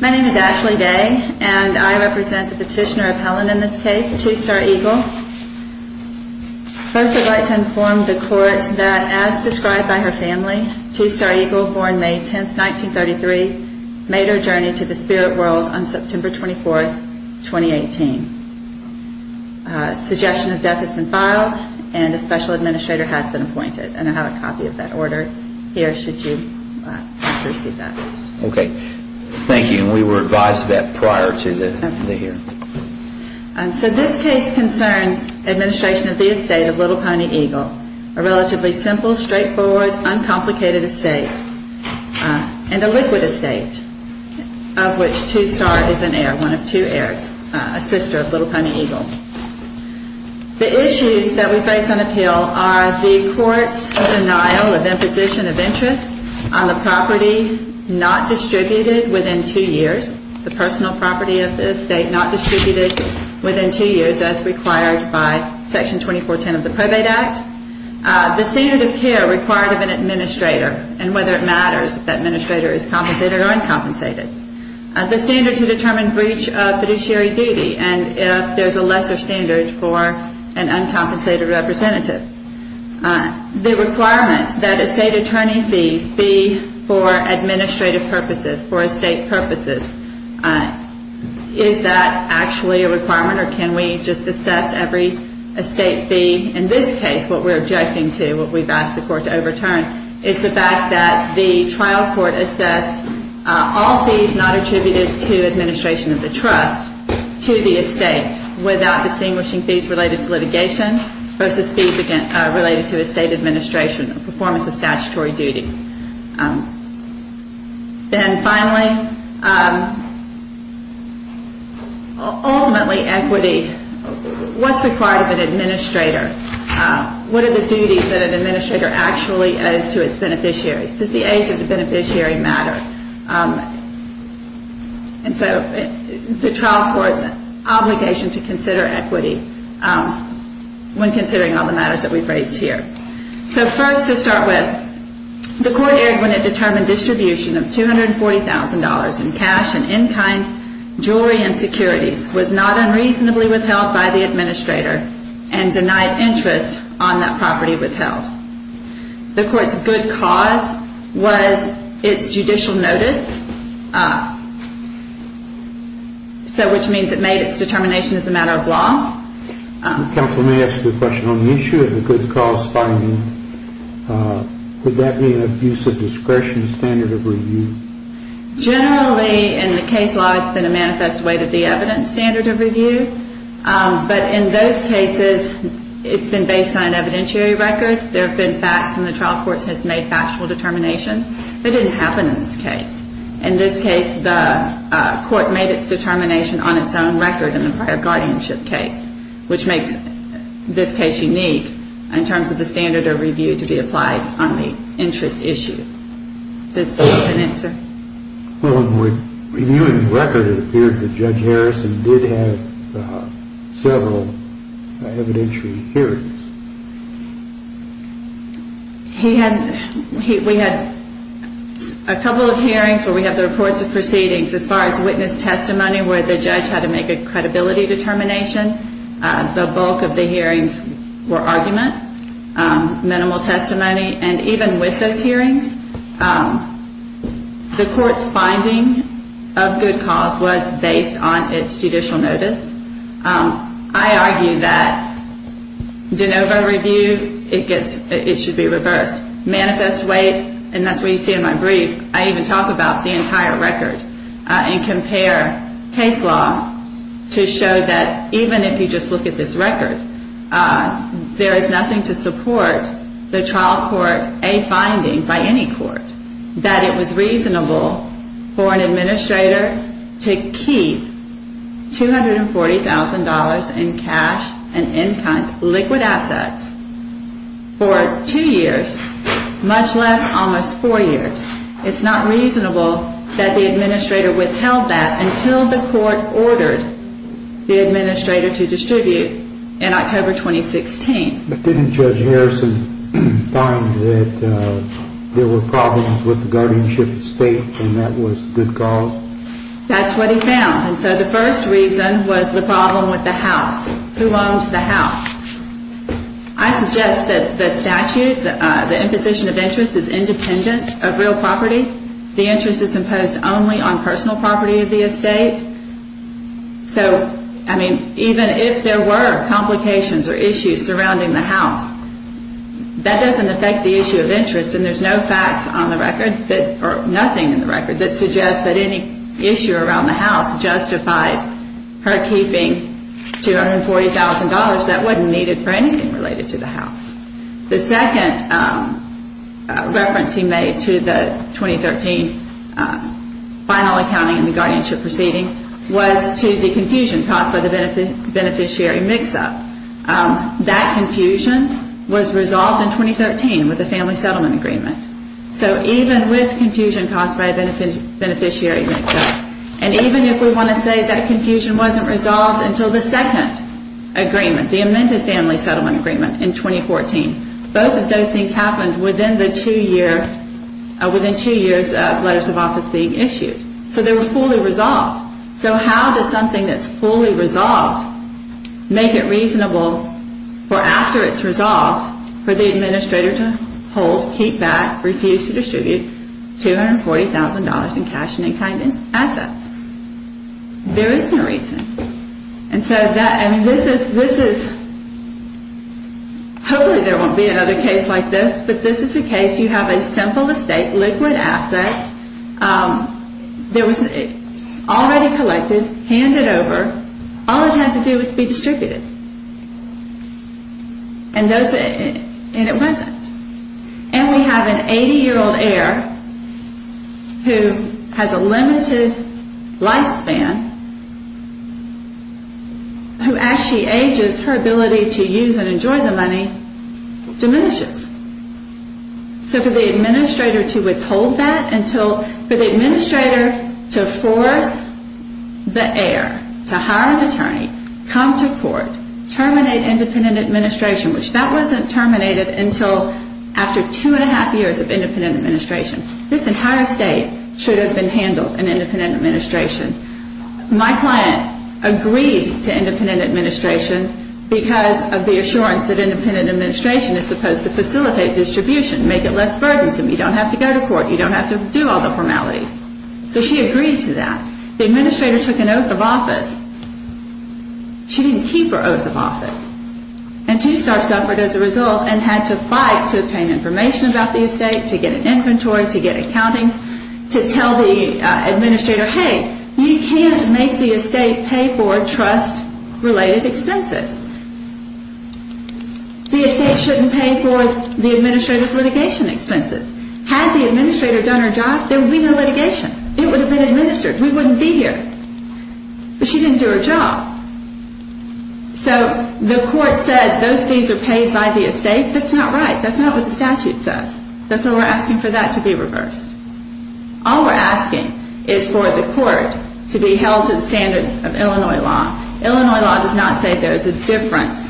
My name is Ashley Day and I represent the petitioner appellant in this case, Two Star Eagle. First I'd like to inform the court that as described by her family, Two Star Eagle, born May 10th, 1933, made her journey to the spirit world on September 24th, 2018. A suggestion of death has been filed and a special administrator has been appointed. And I have a copy of that order here, should you want to receive that. Okay, thank you. And we were advised of that prior to the hearing. So this case concerns administration of the estate of Little Pony Eagle, a relatively simple, straightforward, uncomplicated estate, and a liquid estate, of which Two Star is an heir, one of two heirs, a sister of Little Pony Eagle. The issues that we face on appeal are the court's denial of imposition of interest on the property not distributed within two years, the personal property of the estate not distributed within two years as required by Section 2410 of the Probate Act. The standard of care required of an administrator and whether it matters if the administrator is compensated or uncompensated. The standard to determine breach of fiduciary duty and if there's a lesser standard for an uncompensated representative. The requirement that estate attorney fees be for administrative purposes, for estate purposes. Is that actually a requirement or can we just assess every estate fee? In this case, what we're objecting to, what we've asked the court to overturn, is the fact that the trial court assessed all fees not attributed to administration of the trust to the estate without distinguishing fees related to litigation versus fees related to estate administration or performance of statutory duties. Then finally, ultimately equity, what's required of an administrator? What are the duties that an administrator actually owes to its beneficiaries? Does the age of the beneficiary matter? And so the trial court's obligation to consider equity when considering all the matters that we've raised here. So first to start with, the court erred when it determined distribution of $240,000 in cash and in-kind jewelry and securities was not unreasonably withheld by the administrator and denied interest on that property withheld. The court's good cause was its judicial notice, which means it made its determination as a matter of law. Counsel may ask a question on the issue of the good cause filing. Would that be an abuse of discretion standard of review? Generally, in the case law, it's been a manifest way to be evidence standard of review. But in those cases, it's been based on evidentiary records. There have been facts and the trial court has made factual determinations. It didn't happen in this case. In this case, the court made its determination on its own record in the prior guardianship case, which makes this case unique in terms of the standard of review to be applied on the interest issue. Does that answer? Well, in reviewing the record, it appeared that Judge Harrison did have several evidentiary hearings. We had a couple of hearings where we have the reports of proceedings. As far as witness testimony where the judge had to make a credibility determination, the bulk of the hearings were argument, minimal testimony. And even with those hearings, the court's finding of good cause was based on its judicial notice. I argue that de novo review, it should be reversed. Manifest weight, and that's what you see in my brief, I even talk about the entire record and compare case law to show that even if you just look at this record, there is nothing to support the trial court, a finding by any court, that it was reasonable for an administrator to keep $240,000 in cash and in-kind liquid assets for two years, much less almost four years. It's not reasonable that the administrator withheld that until the court ordered the administrator to distribute in October 2016. But didn't Judge Harrison find that there were problems with the guardianship estate and that was good cause? That's what he found. And so the first reason was the problem with the house. Who owned the house? I suggest that the statute, the imposition of interest, is independent of real property. The interest is imposed only on personal property of the estate. So, I mean, even if there were complications or issues surrounding the house, that doesn't affect the issue of interest and there's no facts on the record, or nothing in the record, that suggests that any issue around the house justified her keeping $240,000 that wasn't needed for anything related to the house. The second reference he made to the 2013 final accounting and the guardianship proceeding was to the confusion caused by the beneficiary mix-up. That confusion was resolved in 2013 with the family settlement agreement. So even with confusion caused by a beneficiary mix-up, and even if we want to say that confusion wasn't resolved until the second agreement, the amended family settlement agreement in 2014, both of those things happened within the two years of letters of office being issued. So they were fully resolved. So how does something that's fully resolved make it reasonable for after it's resolved for the administrator to hold, keep back, refuse to distribute $240,000 in cash and in-kind assets? There isn't a reason. And so this is, hopefully there won't be another case like this, but this is the case. You have a simple estate, liquid assets. There was already collected, handed over. All it had to do was be distributed. And it wasn't. And we have an 80-year-old heir who has a limited lifespan, who as she ages, her ability to use and enjoy the money diminishes. So for the administrator to withhold that until, for the administrator to force the heir to hire an attorney, come to court, terminate independent administration, which that wasn't terminated until after two and a half years of independent administration. This entire state should have been handled in independent administration. My client agreed to independent administration because of the assurance that independent administration is supposed to facilitate distribution, make it less burdensome. You don't have to go to court. You don't have to do all the formalities. So she agreed to that. The administrator took an oath of office. She didn't keep her oath of office. And Two Star suffered as a result and had to fight to obtain information about the estate, to get an inventory, to get accountings, to tell the administrator, hey, you can't make the estate pay for trust-related expenses. The estate shouldn't pay for the administrator's litigation expenses. Had the administrator done her job, there would be no litigation. It would have been administered. We wouldn't be here. But she didn't do her job. So the court said those fees are paid by the estate. That's not right. That's not what the statute says. That's why we're asking for that to be reversed. All we're asking is for the court to be held to the standard of Illinois law. Illinois law does not say there's a difference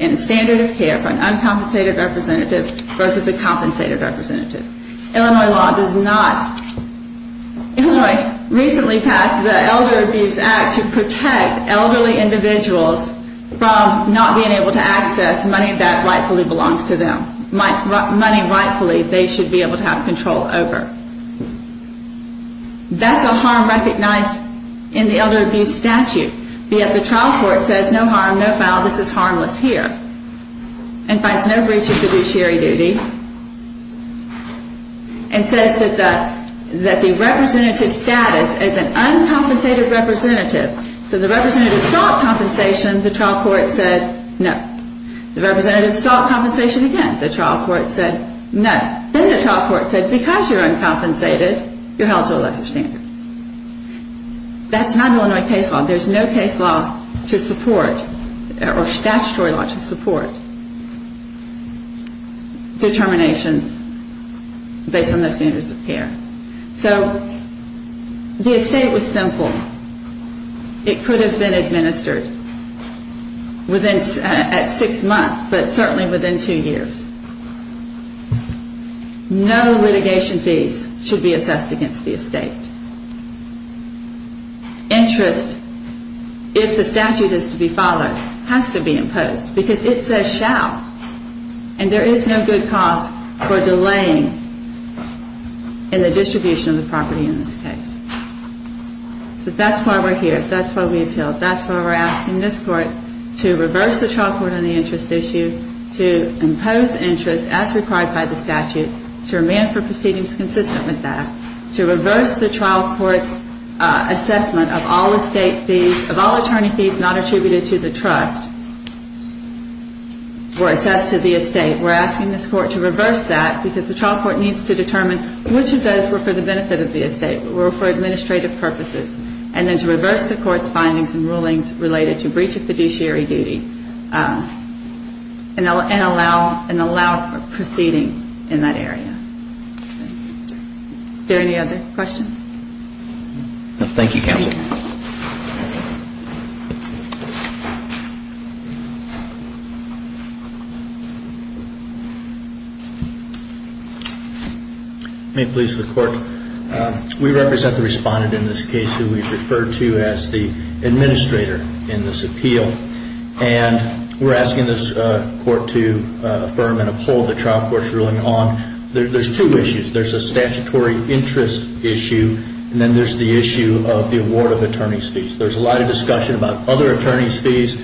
in the standard of care for an uncompensated representative versus a compensated representative. Illinois law does not. Illinois recently passed the Elder Abuse Act to protect elderly individuals from not being able to access money that rightfully belongs to them, money rightfully they should be able to have control over. That's a harm recognized in the elder abuse statute. Yet the trial court says no harm, no foul. This is harmless here and finds no breach of fiduciary duty and says that the representative status as an uncompensated representative. So the representative sought compensation. The trial court said no. The representative sought compensation again. The trial court said no. Then the trial court said because you're uncompensated, you're held to a lesser standard. That's not Illinois case law. There's no case law to support or statutory law to support determinations based on those standards of care. So the estate was simple. It could have been administered at six months, but certainly within two years. No litigation fees should be assessed against the estate. Interest, if the statute is to be followed, has to be imposed because it says shall. And there is no good cause for delaying in the distribution of the property in this case. So that's why we're here. That's why we appealed. That's why we're asking this court to reverse the trial court on the interest issue, to impose interest as required by the statute, to remain for proceedings consistent with that, to reverse the trial court's assessment of all estate fees, of all attorney fees not attributed to the trust or assessed to the estate. We're asking this court to reverse that because the trial court needs to determine which of administrative purposes and then to reverse the court's findings and rulings related to breach of fiduciary duty and allow proceeding in that area. Are there any other questions? Thank you, counsel. May it please the court. We represent the respondent in this case who we've referred to as the administrator in this appeal. And we're asking this court to affirm and uphold the trial court's ruling on, there's two issues. There's a statutory interest issue and then there's the issue of the award of attorney fees. There's a lot of discussion about other attorney fees.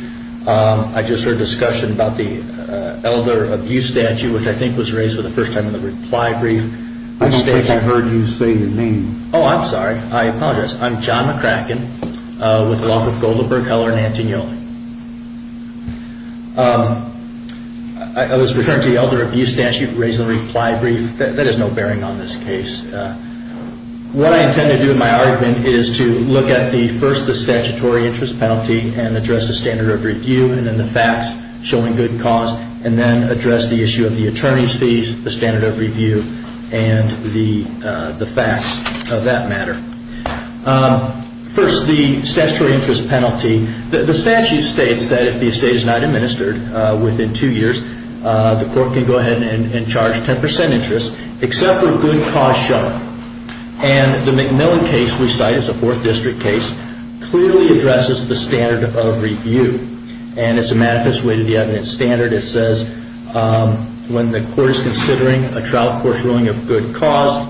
I just heard discussion about the elder abuse statute, which I think was raised for the first time in the reply brief. I don't think I heard you say your name. Oh, I'm sorry. I apologize. I'm John McCracken with the law firm Goldberg, Heller, and Antignoli. I was referring to the elder abuse statute raised in the reply brief. That has no bearing on this case. What I intend to do in my argument is to look at the first, the statutory interest penalty and address the standard of review and then the facts showing good cause and then address the issue of the attorney's fees, the standard of review, and the facts of that matter. First, the statutory interest penalty. The statute states that if the estate is not administered within two years, the court can go ahead and charge 10% interest, except for good cause show. And the McMillan case we cite is a fourth district case, clearly addresses the standard of review. And it's a manifest way to the evidence standard. It says when the court is considering a trial court's ruling of good cause,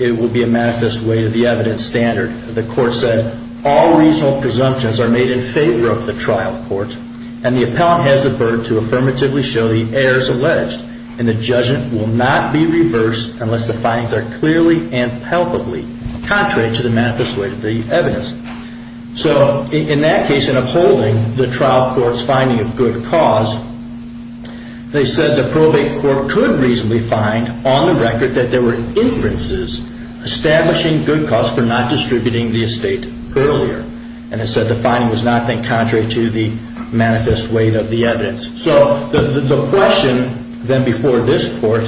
it will be a manifest way to the evidence standard. The court said, all reasonable presumptions are made in favor of the trial court, and the appellant has the burden to affirmatively show the errors alleged, and the judgment will not be reversed unless the findings are clearly and palpably contrary to the manifest way to the evidence. So in that case, in upholding the trial court's finding of good cause, they said the probate court could reasonably find on the record that there were inferences establishing good cause for not distributing the estate earlier. And they said the finding was not made contrary to the manifest way of the evidence. So the question then before this court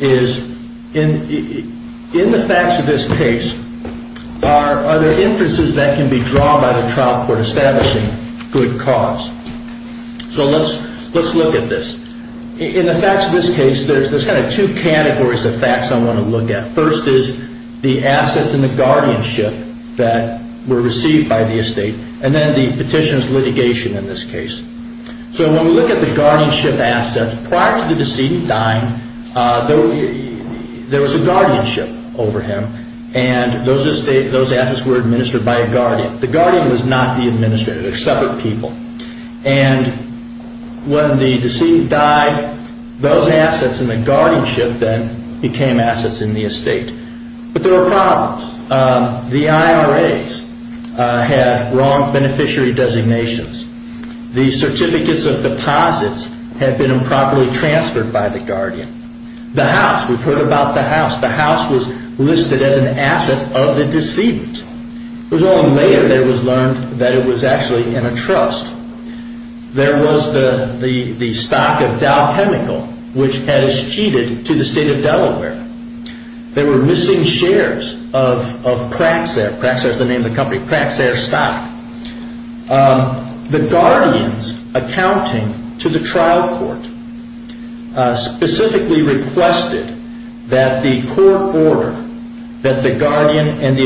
is, in the facts of this case, are there inferences that can be drawn by the trial court establishing good cause? So let's look at this. In the facts of this case, there's kind of two categories of facts I want to look at. First is the assets and the guardianship that were received by the estate, and then the petitioner's litigation in this case. So when we look at the guardianship assets, prior to the decedent dying, there was a guardianship over him, and those assets were administered by a guardian. The guardian was not the administrator. They were separate people. And when the decedent died, those assets and the guardianship then became assets in the estate. But there were problems. The IRAs had wrong beneficiary designations. The certificates of deposits had been improperly transferred by the guardian. The house, we've heard about the house. The house was listed as an asset of the decedent. It was only later that it was learned that it was actually in a trust. There was the stock of Dow Chemical, which had cheated to the state of Delaware. There were missing shares of Praxair. Praxair is the name of the company. Praxair stock. The guardians accounting to the trial court specifically requested that the court order that the guardian and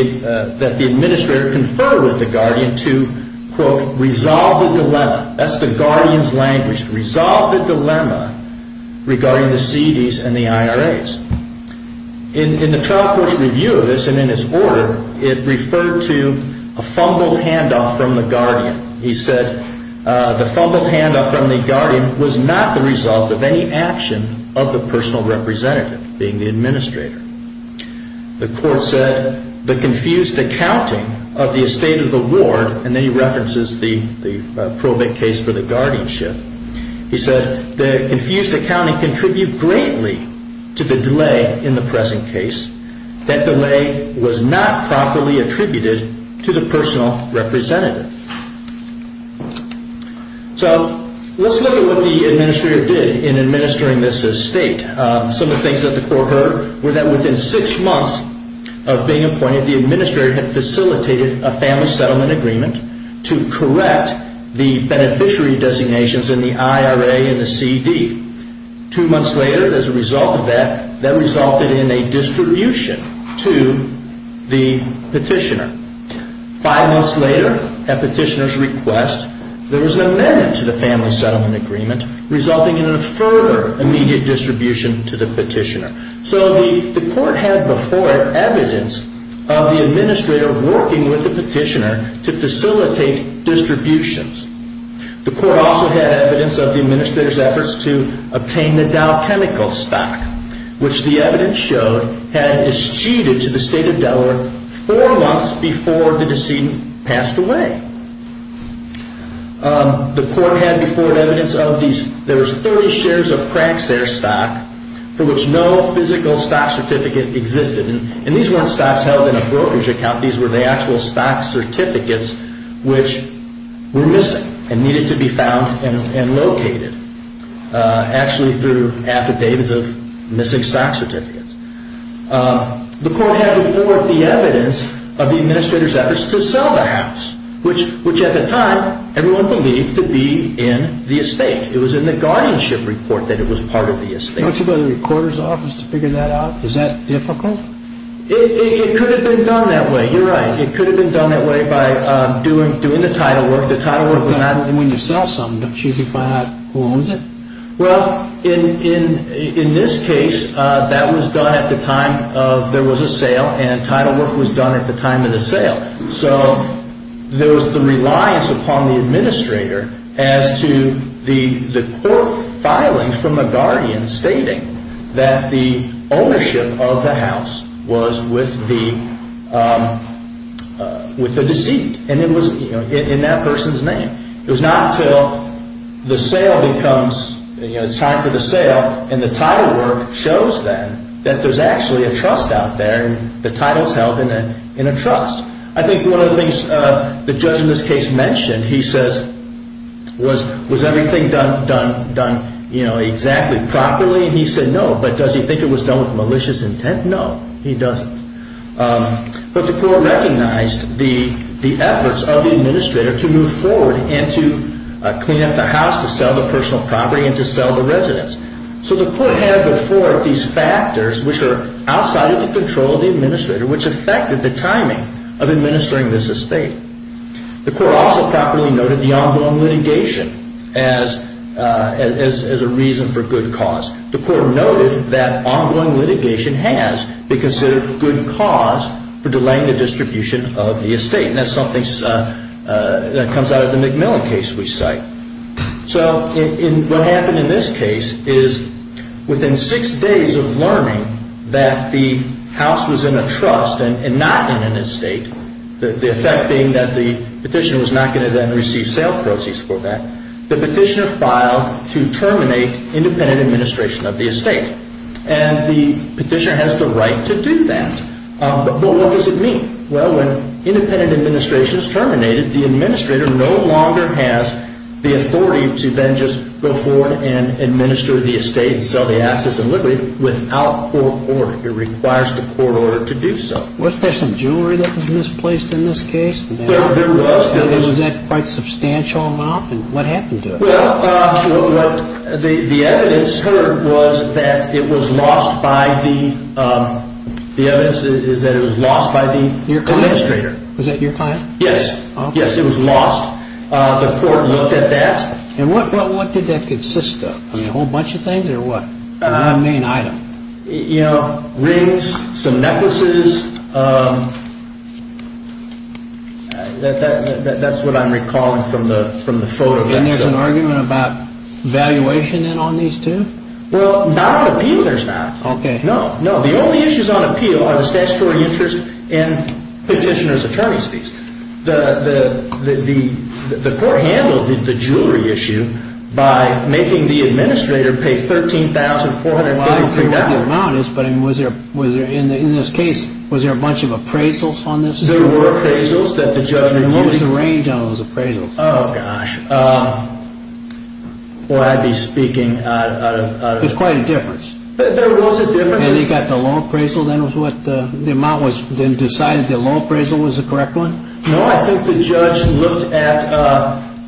that the administrator confer with the guardian to, quote, resolve the dilemma. That's the guardian's language, to resolve the dilemma regarding the CDs and the IRAs. In the trial court's review of this and in its order, it referred to a fumbled handoff from the guardian. He said the fumbled handoff from the guardian was not the result of any action of the personal representative, being the administrator. The court said the confused accounting of the estate of the ward, and then he references the probate case for the guardianship. He said the confused accounting contributed greatly to the delay in the present case. That delay was not properly attributed to the personal representative. So let's look at what the administrator did in administering this estate. Some of the things that the court heard were that within six months of being appointed, the administrator had facilitated a family settlement agreement to correct the beneficiary designations in the IRA and the CD. Two months later, as a result of that, that resulted in a distribution to the petitioner. Five months later, at petitioner's request, there was an amendment to the family settlement agreement, resulting in a further immediate distribution to the petitioner. So the court had before evidence of the administrator working with the petitioner to facilitate distributions. The court also had evidence of the administrator's efforts to obtain the Dow Chemical stock, which the evidence showed had eschewed to the state of Delaware four months before the decedent passed away. The court had before evidence of these. There was 30 shares of Praxair stock for which no physical stock certificate existed, and these weren't stocks held in a brokerage account. These were the actual stock certificates which were missing and needed to be found and located, actually through affidavits of missing stock certificates. The court had before the evidence of the administrator's efforts to sell the house, which at the time everyone believed to be in the estate. It was in the guardianship report that it was part of the estate. Don't you go to the recorder's office to figure that out? Is that difficult? It could have been done that way. You're right. It could have been done that way by doing the title work. The title work was not. When you sell something, don't you have to find out who owns it? Well, in this case, that was done at the time of there was a sale, and title work was done at the time of the sale. So there was the reliance upon the administrator as to the court filing from a guardian stating that the ownership of the house was with the deceit, and it was in that person's name. It was not until the sale becomes, it's time for the sale, and the title work shows then that there's actually a trust out there, and the title's held in a trust. I think one of the things the judge in this case mentioned, he says, was everything done exactly properly? I mean, he said no, but does he think it was done with malicious intent? No, he doesn't. But the court recognized the efforts of the administrator to move forward and to clean up the house, to sell the personal property, and to sell the residence. So the court had before it these factors which are outside of the control of the administrator, which affected the timing of administering this estate. The court also properly noted the ongoing litigation as a reason for good cause. The court noted that ongoing litigation has been considered a good cause for delaying the distribution of the estate, and that's something that comes out of the McMillan case we cite. So what happened in this case is within six days of learning that the house was in a trust and not in an estate, the effect being that the petitioner was not going to then receive sale proceeds for that, the petitioner filed to terminate independent administration of the estate, and the petitioner has the right to do that. But what does it mean? Well, when independent administration is terminated, the administrator no longer has the authority to then just go forward and administer the estate and sell the assets and liberties without court order. It requires the court order to do so. Was there some jewelry that was misplaced in this case? There was. Was that quite a substantial amount, and what happened to it? Well, the evidence heard was that it was lost by the administrator. Was that your client? Yes. Yes, it was lost. The court looked at that. And what did that consist of? A whole bunch of things or what? I mean item. You know, rings, some necklaces. That's what I'm recalling from the photo. And there's an argument about valuation then on these too? Well, not on appeal there's not. No, no. The only issues on appeal are the statutory interest and petitioner's attorney's fees. The court handled the jewelry issue by making the administrator pay $13,450. Well, I don't know what the amount is, but in this case was there a bunch of appraisals on this? There were appraisals that the judge reviewed. And what was the range on those appraisals? Oh, gosh. Well, I'd be speaking out of... There's quite a difference. There was a difference. And they got the low appraisal then was what the amount was then decided the low appraisal was the correct one? No, I think the judge looked at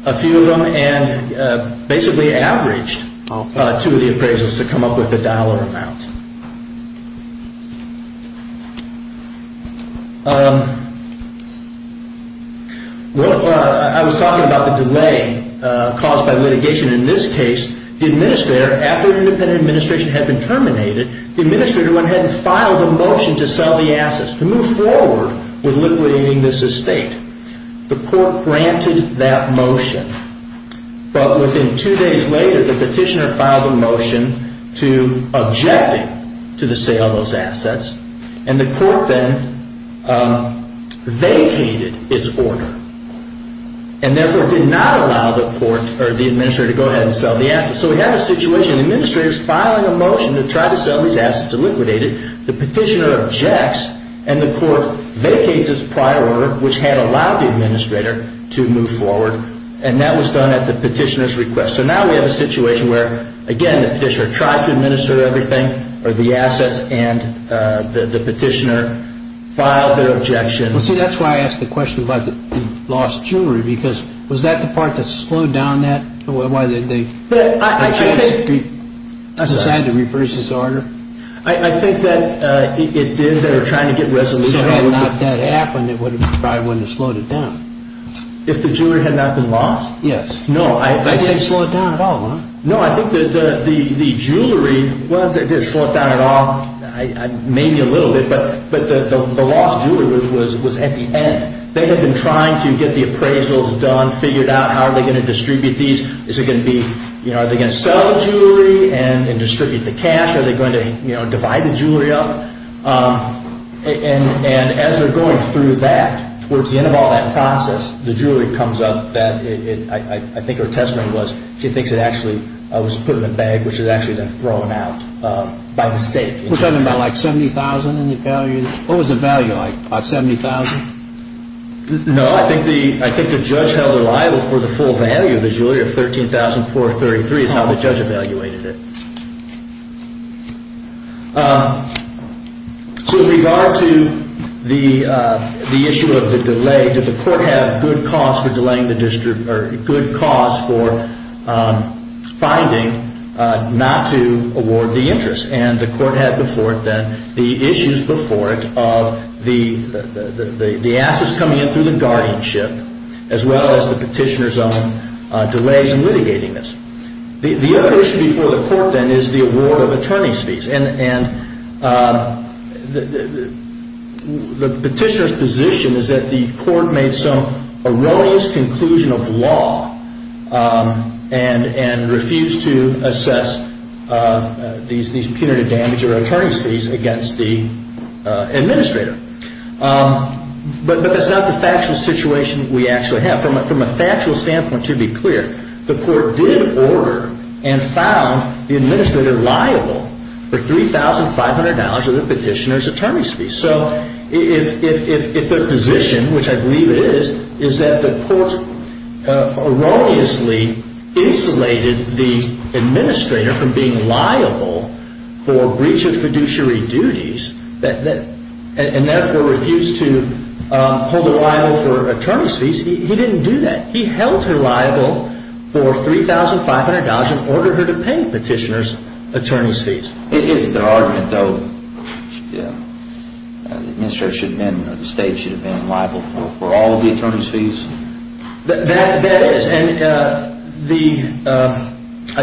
a few of them and basically averaged two of the appraisals to come up with the dollar amount. I was talking about the delay caused by litigation. In this case, the administrator, after the independent administration had been terminated, the administrator went ahead and filed a motion to sell the assets, to move forward with liquidating this estate. The court granted that motion. But within two days later, the petitioner filed a motion to object to the sale of those assets. And the court then vacated its order. And therefore did not allow the administrator to go ahead and sell the assets. So we have a situation. The administrator is filing a motion to try to sell these assets to liquidate it. The petitioner objects. And the court vacates its prior order, which had allowed the administrator to move forward. And that was done at the petitioner's request. So now we have a situation where, again, the petitioner tried to administer everything, or the assets, and the petitioner filed their objection. Well, see, that's why I asked the question about the lost jewelry. Because was that the part that slowed down that? Why did they decide to reverse this order? I think that it did. They were trying to get resolution. So had not that happened, it probably wouldn't have slowed it down. If the jewelry had not been lost? Yes. No. It didn't slow it down at all, huh? No, I think that the jewelry, well, it didn't slow it down at all. Maybe a little bit. But the lost jewelry was at the end. They had been trying to get the appraisals done, figured out how are they going to distribute these. Is it going to be, you know, are they going to sell the jewelry and distribute the cash? Are they going to, you know, divide the jewelry up? And as they're going through that, towards the end of all that process, the jewelry comes up that I think her testimony was she thinks it actually was put in a bag, which was actually then thrown out by mistake. Was that about like $70,000 in the value? What was the value, like about $70,000? No, I think the judge held it liable for the full value of the jewelry of $13,433 is how the judge evaluated it. So with regard to the issue of the delay, did the court have good cause for delaying the distribution, or good cause for finding not to award the interest? And the court had before it then the issues before it of the assets coming in through the guardianship, as well as the petitioner's own delays in litigating this. The other issue before the court then is the award of attorney's fees. And the petitioner's position is that the court made some erroneous conclusion of law and refused to assess these punitive damages or attorney's fees against the administrator. But that's not the factual situation we actually have. From a factual standpoint, to be clear, the court did order and found the administrator liable for $3,500 of the petitioner's attorney's fees. So if the position, which I believe it is, is that the court erroneously insulated the administrator from being liable for breach of fiduciary duties and therefore refused to hold her liable for attorney's fees, he didn't do that. He held her liable for $3,500 and ordered her to pay the petitioner's attorney's fees. It is their argument, though, that the administrator or the state should have been liable for all of the attorney's fees? That is, and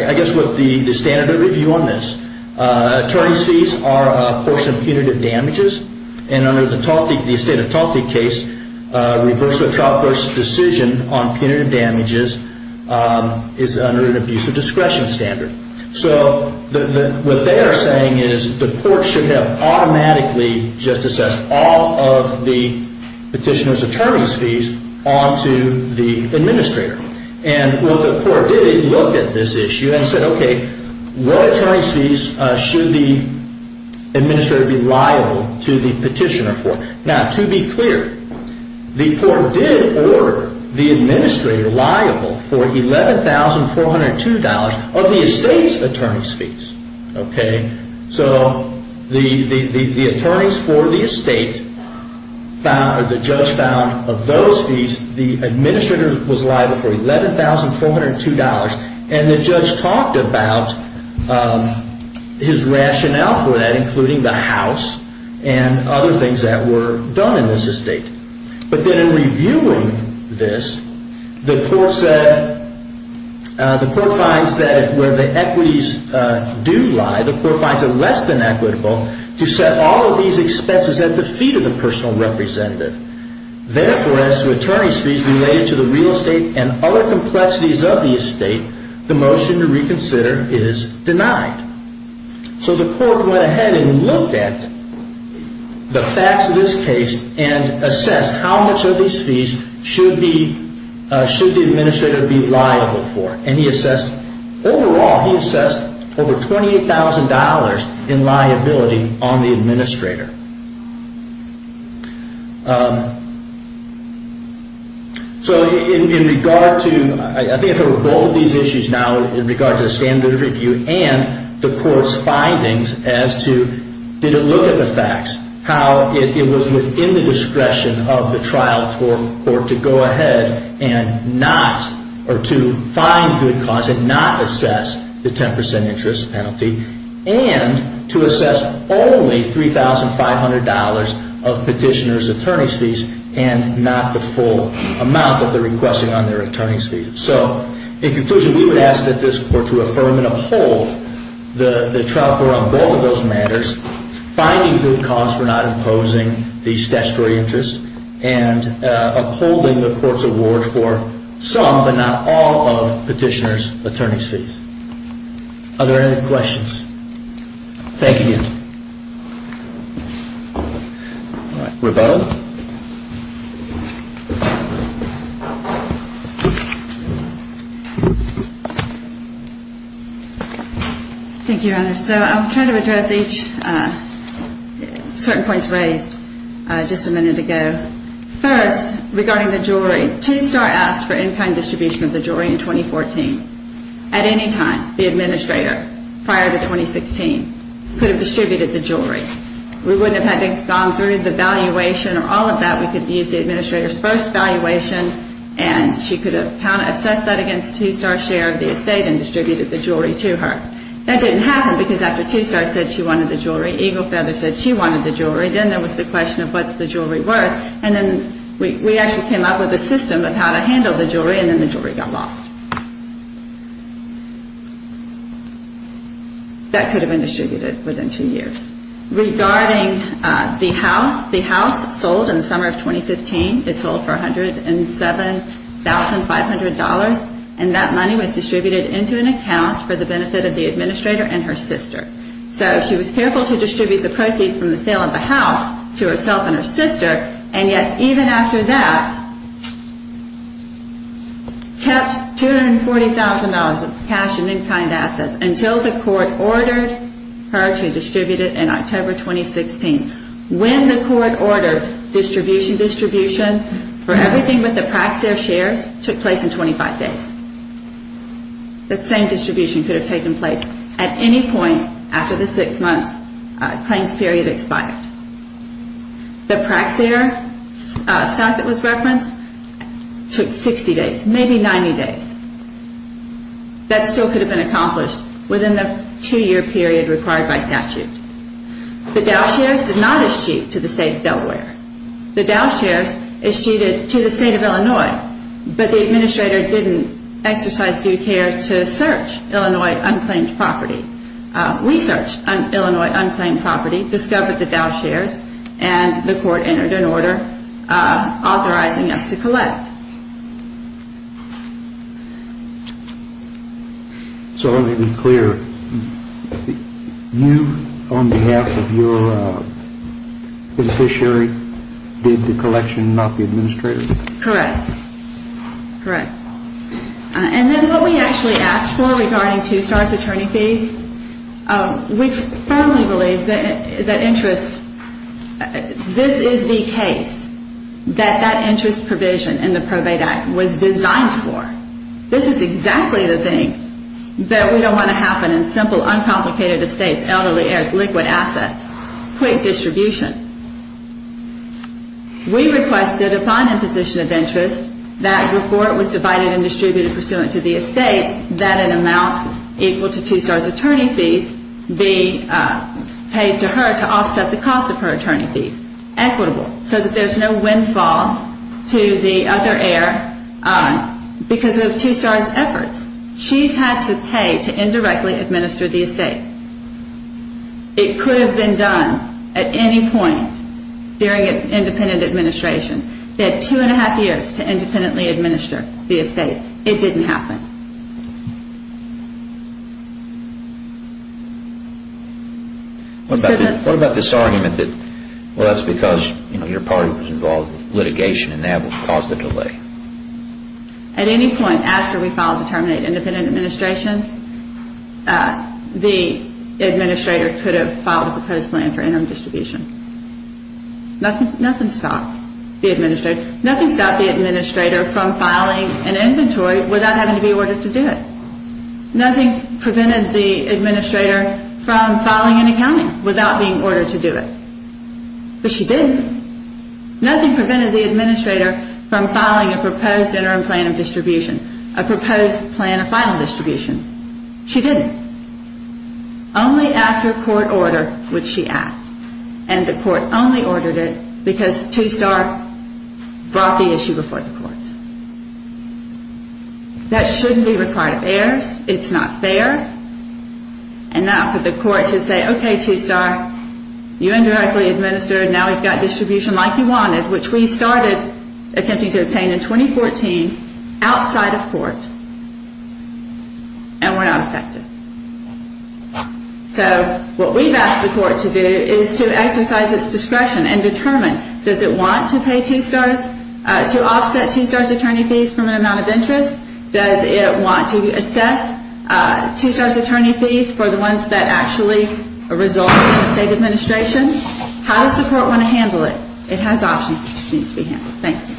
I guess with the standard of review on this, attorney's fees are a portion of punitive damages, and under the estate of Taltik case, reversal of trial versus decision on punitive damages is under an abuse of discretion standard. So what they are saying is the court should have automatically just assessed all of the petitioner's attorney's fees onto the administrator. Well, the court did look at this issue and said, okay, what attorney's fees should the administrator be liable to the petitioner for? Now, to be clear, the court did order the administrator liable for $11,402 of the estate's attorney's fees. So the attorneys for the estate, the judge found of those fees, the administrator was liable for $11,402, and the judge talked about his rationale for that, including the house and other things that were done in this estate. But then in reviewing this, the court said, the court finds that where the equities do lie, the court finds it less than equitable to set all of these expenses at the feet of the personal representative. Therefore, as to attorney's fees related to the real estate and other complexities of the estate, the motion to reconsider is denied. So the court went ahead and looked at the facts of this case and assessed how much of these fees should the administrator be liable for. And he assessed, overall, he assessed over $28,000 in liability on the administrator. So in regard to, I think if there were both of these issues now, in regard to the standard review and the court's findings as to, did it look at the facts, how it was within the discretion of the trial court to go ahead and not, or to find good cause and not assess the 10% interest penalty, and to assess only $3,500 of petitioner's attorney's fees and not the full amount that they're requesting on their attorney's fees. So, in conclusion, we would ask that this court to affirm and uphold the trial court on both of those matters, finding good cause for not imposing the statutory interest and upholding the court's award for some, but not all, of petitioner's attorney's fees. Are there any questions? Thank you. All right, rebuttal. Thank you, Your Honor. So I'll try to address each, certain points raised just a minute ago. First, regarding the jewelry, T-Star asked for in-kind distribution of the jewelry in 2014. At any time, the administrator, prior to 2016, could have distributed the jewelry. We wouldn't have had to have gone through the valuation or all of that. We could have used the administrator's first valuation and she could have assessed that against T-Star's share of the estate and distributed the jewelry to her. That didn't happen because after T-Star said she wanted the jewelry, Eagle Feather said she wanted the jewelry, then there was the question of what's the jewelry worth, and then we actually came up with a system of how to handle the jewelry, and then the jewelry got lost. That could have been distributed within two years. Regarding the house, the house sold in the summer of 2015. It sold for $107,500, and that money was distributed into an account for the benefit of the administrator and her sister. So she was careful to distribute the proceeds from the sale of the house to herself and her sister, and yet even after that, kept $240,000 of cash and in-kind assets until the court ordered her to distribute it in October 2016. When the court ordered distribution, distribution for everything but the Praxair shares took place in 25 days. That same distribution could have taken place at any point after the six-month claims period expired. The Praxair stock that was referenced took 60 days, maybe 90 days. That still could have been accomplished within the two-year period required by statute. The Dow shares did not eschew to the state of Delaware. The Dow shares eschewed to the state of Illinois, but the administrator didn't exercise due care to search Illinois unclaimed property. We searched Illinois unclaimed property, discovered the Dow shares, and the court entered an order authorizing us to collect. So let me be clear. You, on behalf of your beneficiary, did the collection, not the administrator? Correct. Correct. And then what we actually asked for regarding two-stars attorney fees, we firmly believe that interest, this is the case that that interest provision in the Probate Act was designed for. This is exactly the thing that we don't want to happen in simple, uncomplicated estates, elderly heirs, liquid assets. Quick distribution. We requested upon imposition of interest that before it was divided and distributed pursuant to the estate, that an amount equal to two-stars attorney fees be paid to her to offset the cost of her attorney fees. Equitable. Equitable so that there's no windfall to the other heir because of two-stars efforts. She's had to pay to indirectly administer the estate. It could have been done at any point during an independent administration. They had two and a half years to independently administer the estate. It didn't happen. What about this argument that, well, that's because your party was involved in litigation and that would cause the delay? At any point after we filed to terminate independent administration, the administrator could have filed a proposed plan for interim distribution. Nothing stopped the administrator. Nothing stopped the administrator from filing an inventory without having to be ordered to do it. Nothing prevented the administrator from filing an accounting without being ordered to do it. But she didn't. Nothing prevented the administrator from filing a proposed interim plan of distribution, a proposed plan of final distribution. She didn't. Only after court order would she act. And the court only ordered it because two-star brought the issue before the court. That shouldn't be required of heirs. It's not fair. And now for the court to say, okay, two-star, you indirectly administered, now we've got distribution like you wanted, which we started attempting to obtain in 2014 outside of court, and we're not effective. So what we've asked the court to do is to exercise its discretion and determine, does it want to pay two-stars, to offset two-stars attorney fees from an amount of interest? Does it want to assess two-stars attorney fees for the ones that actually result in state administration? How does the court want to handle it? It has options. It just needs to be handled. Thank you.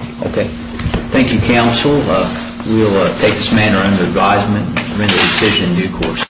Thank you, counsel. We'll take this matter under advisement and render a decision in due course.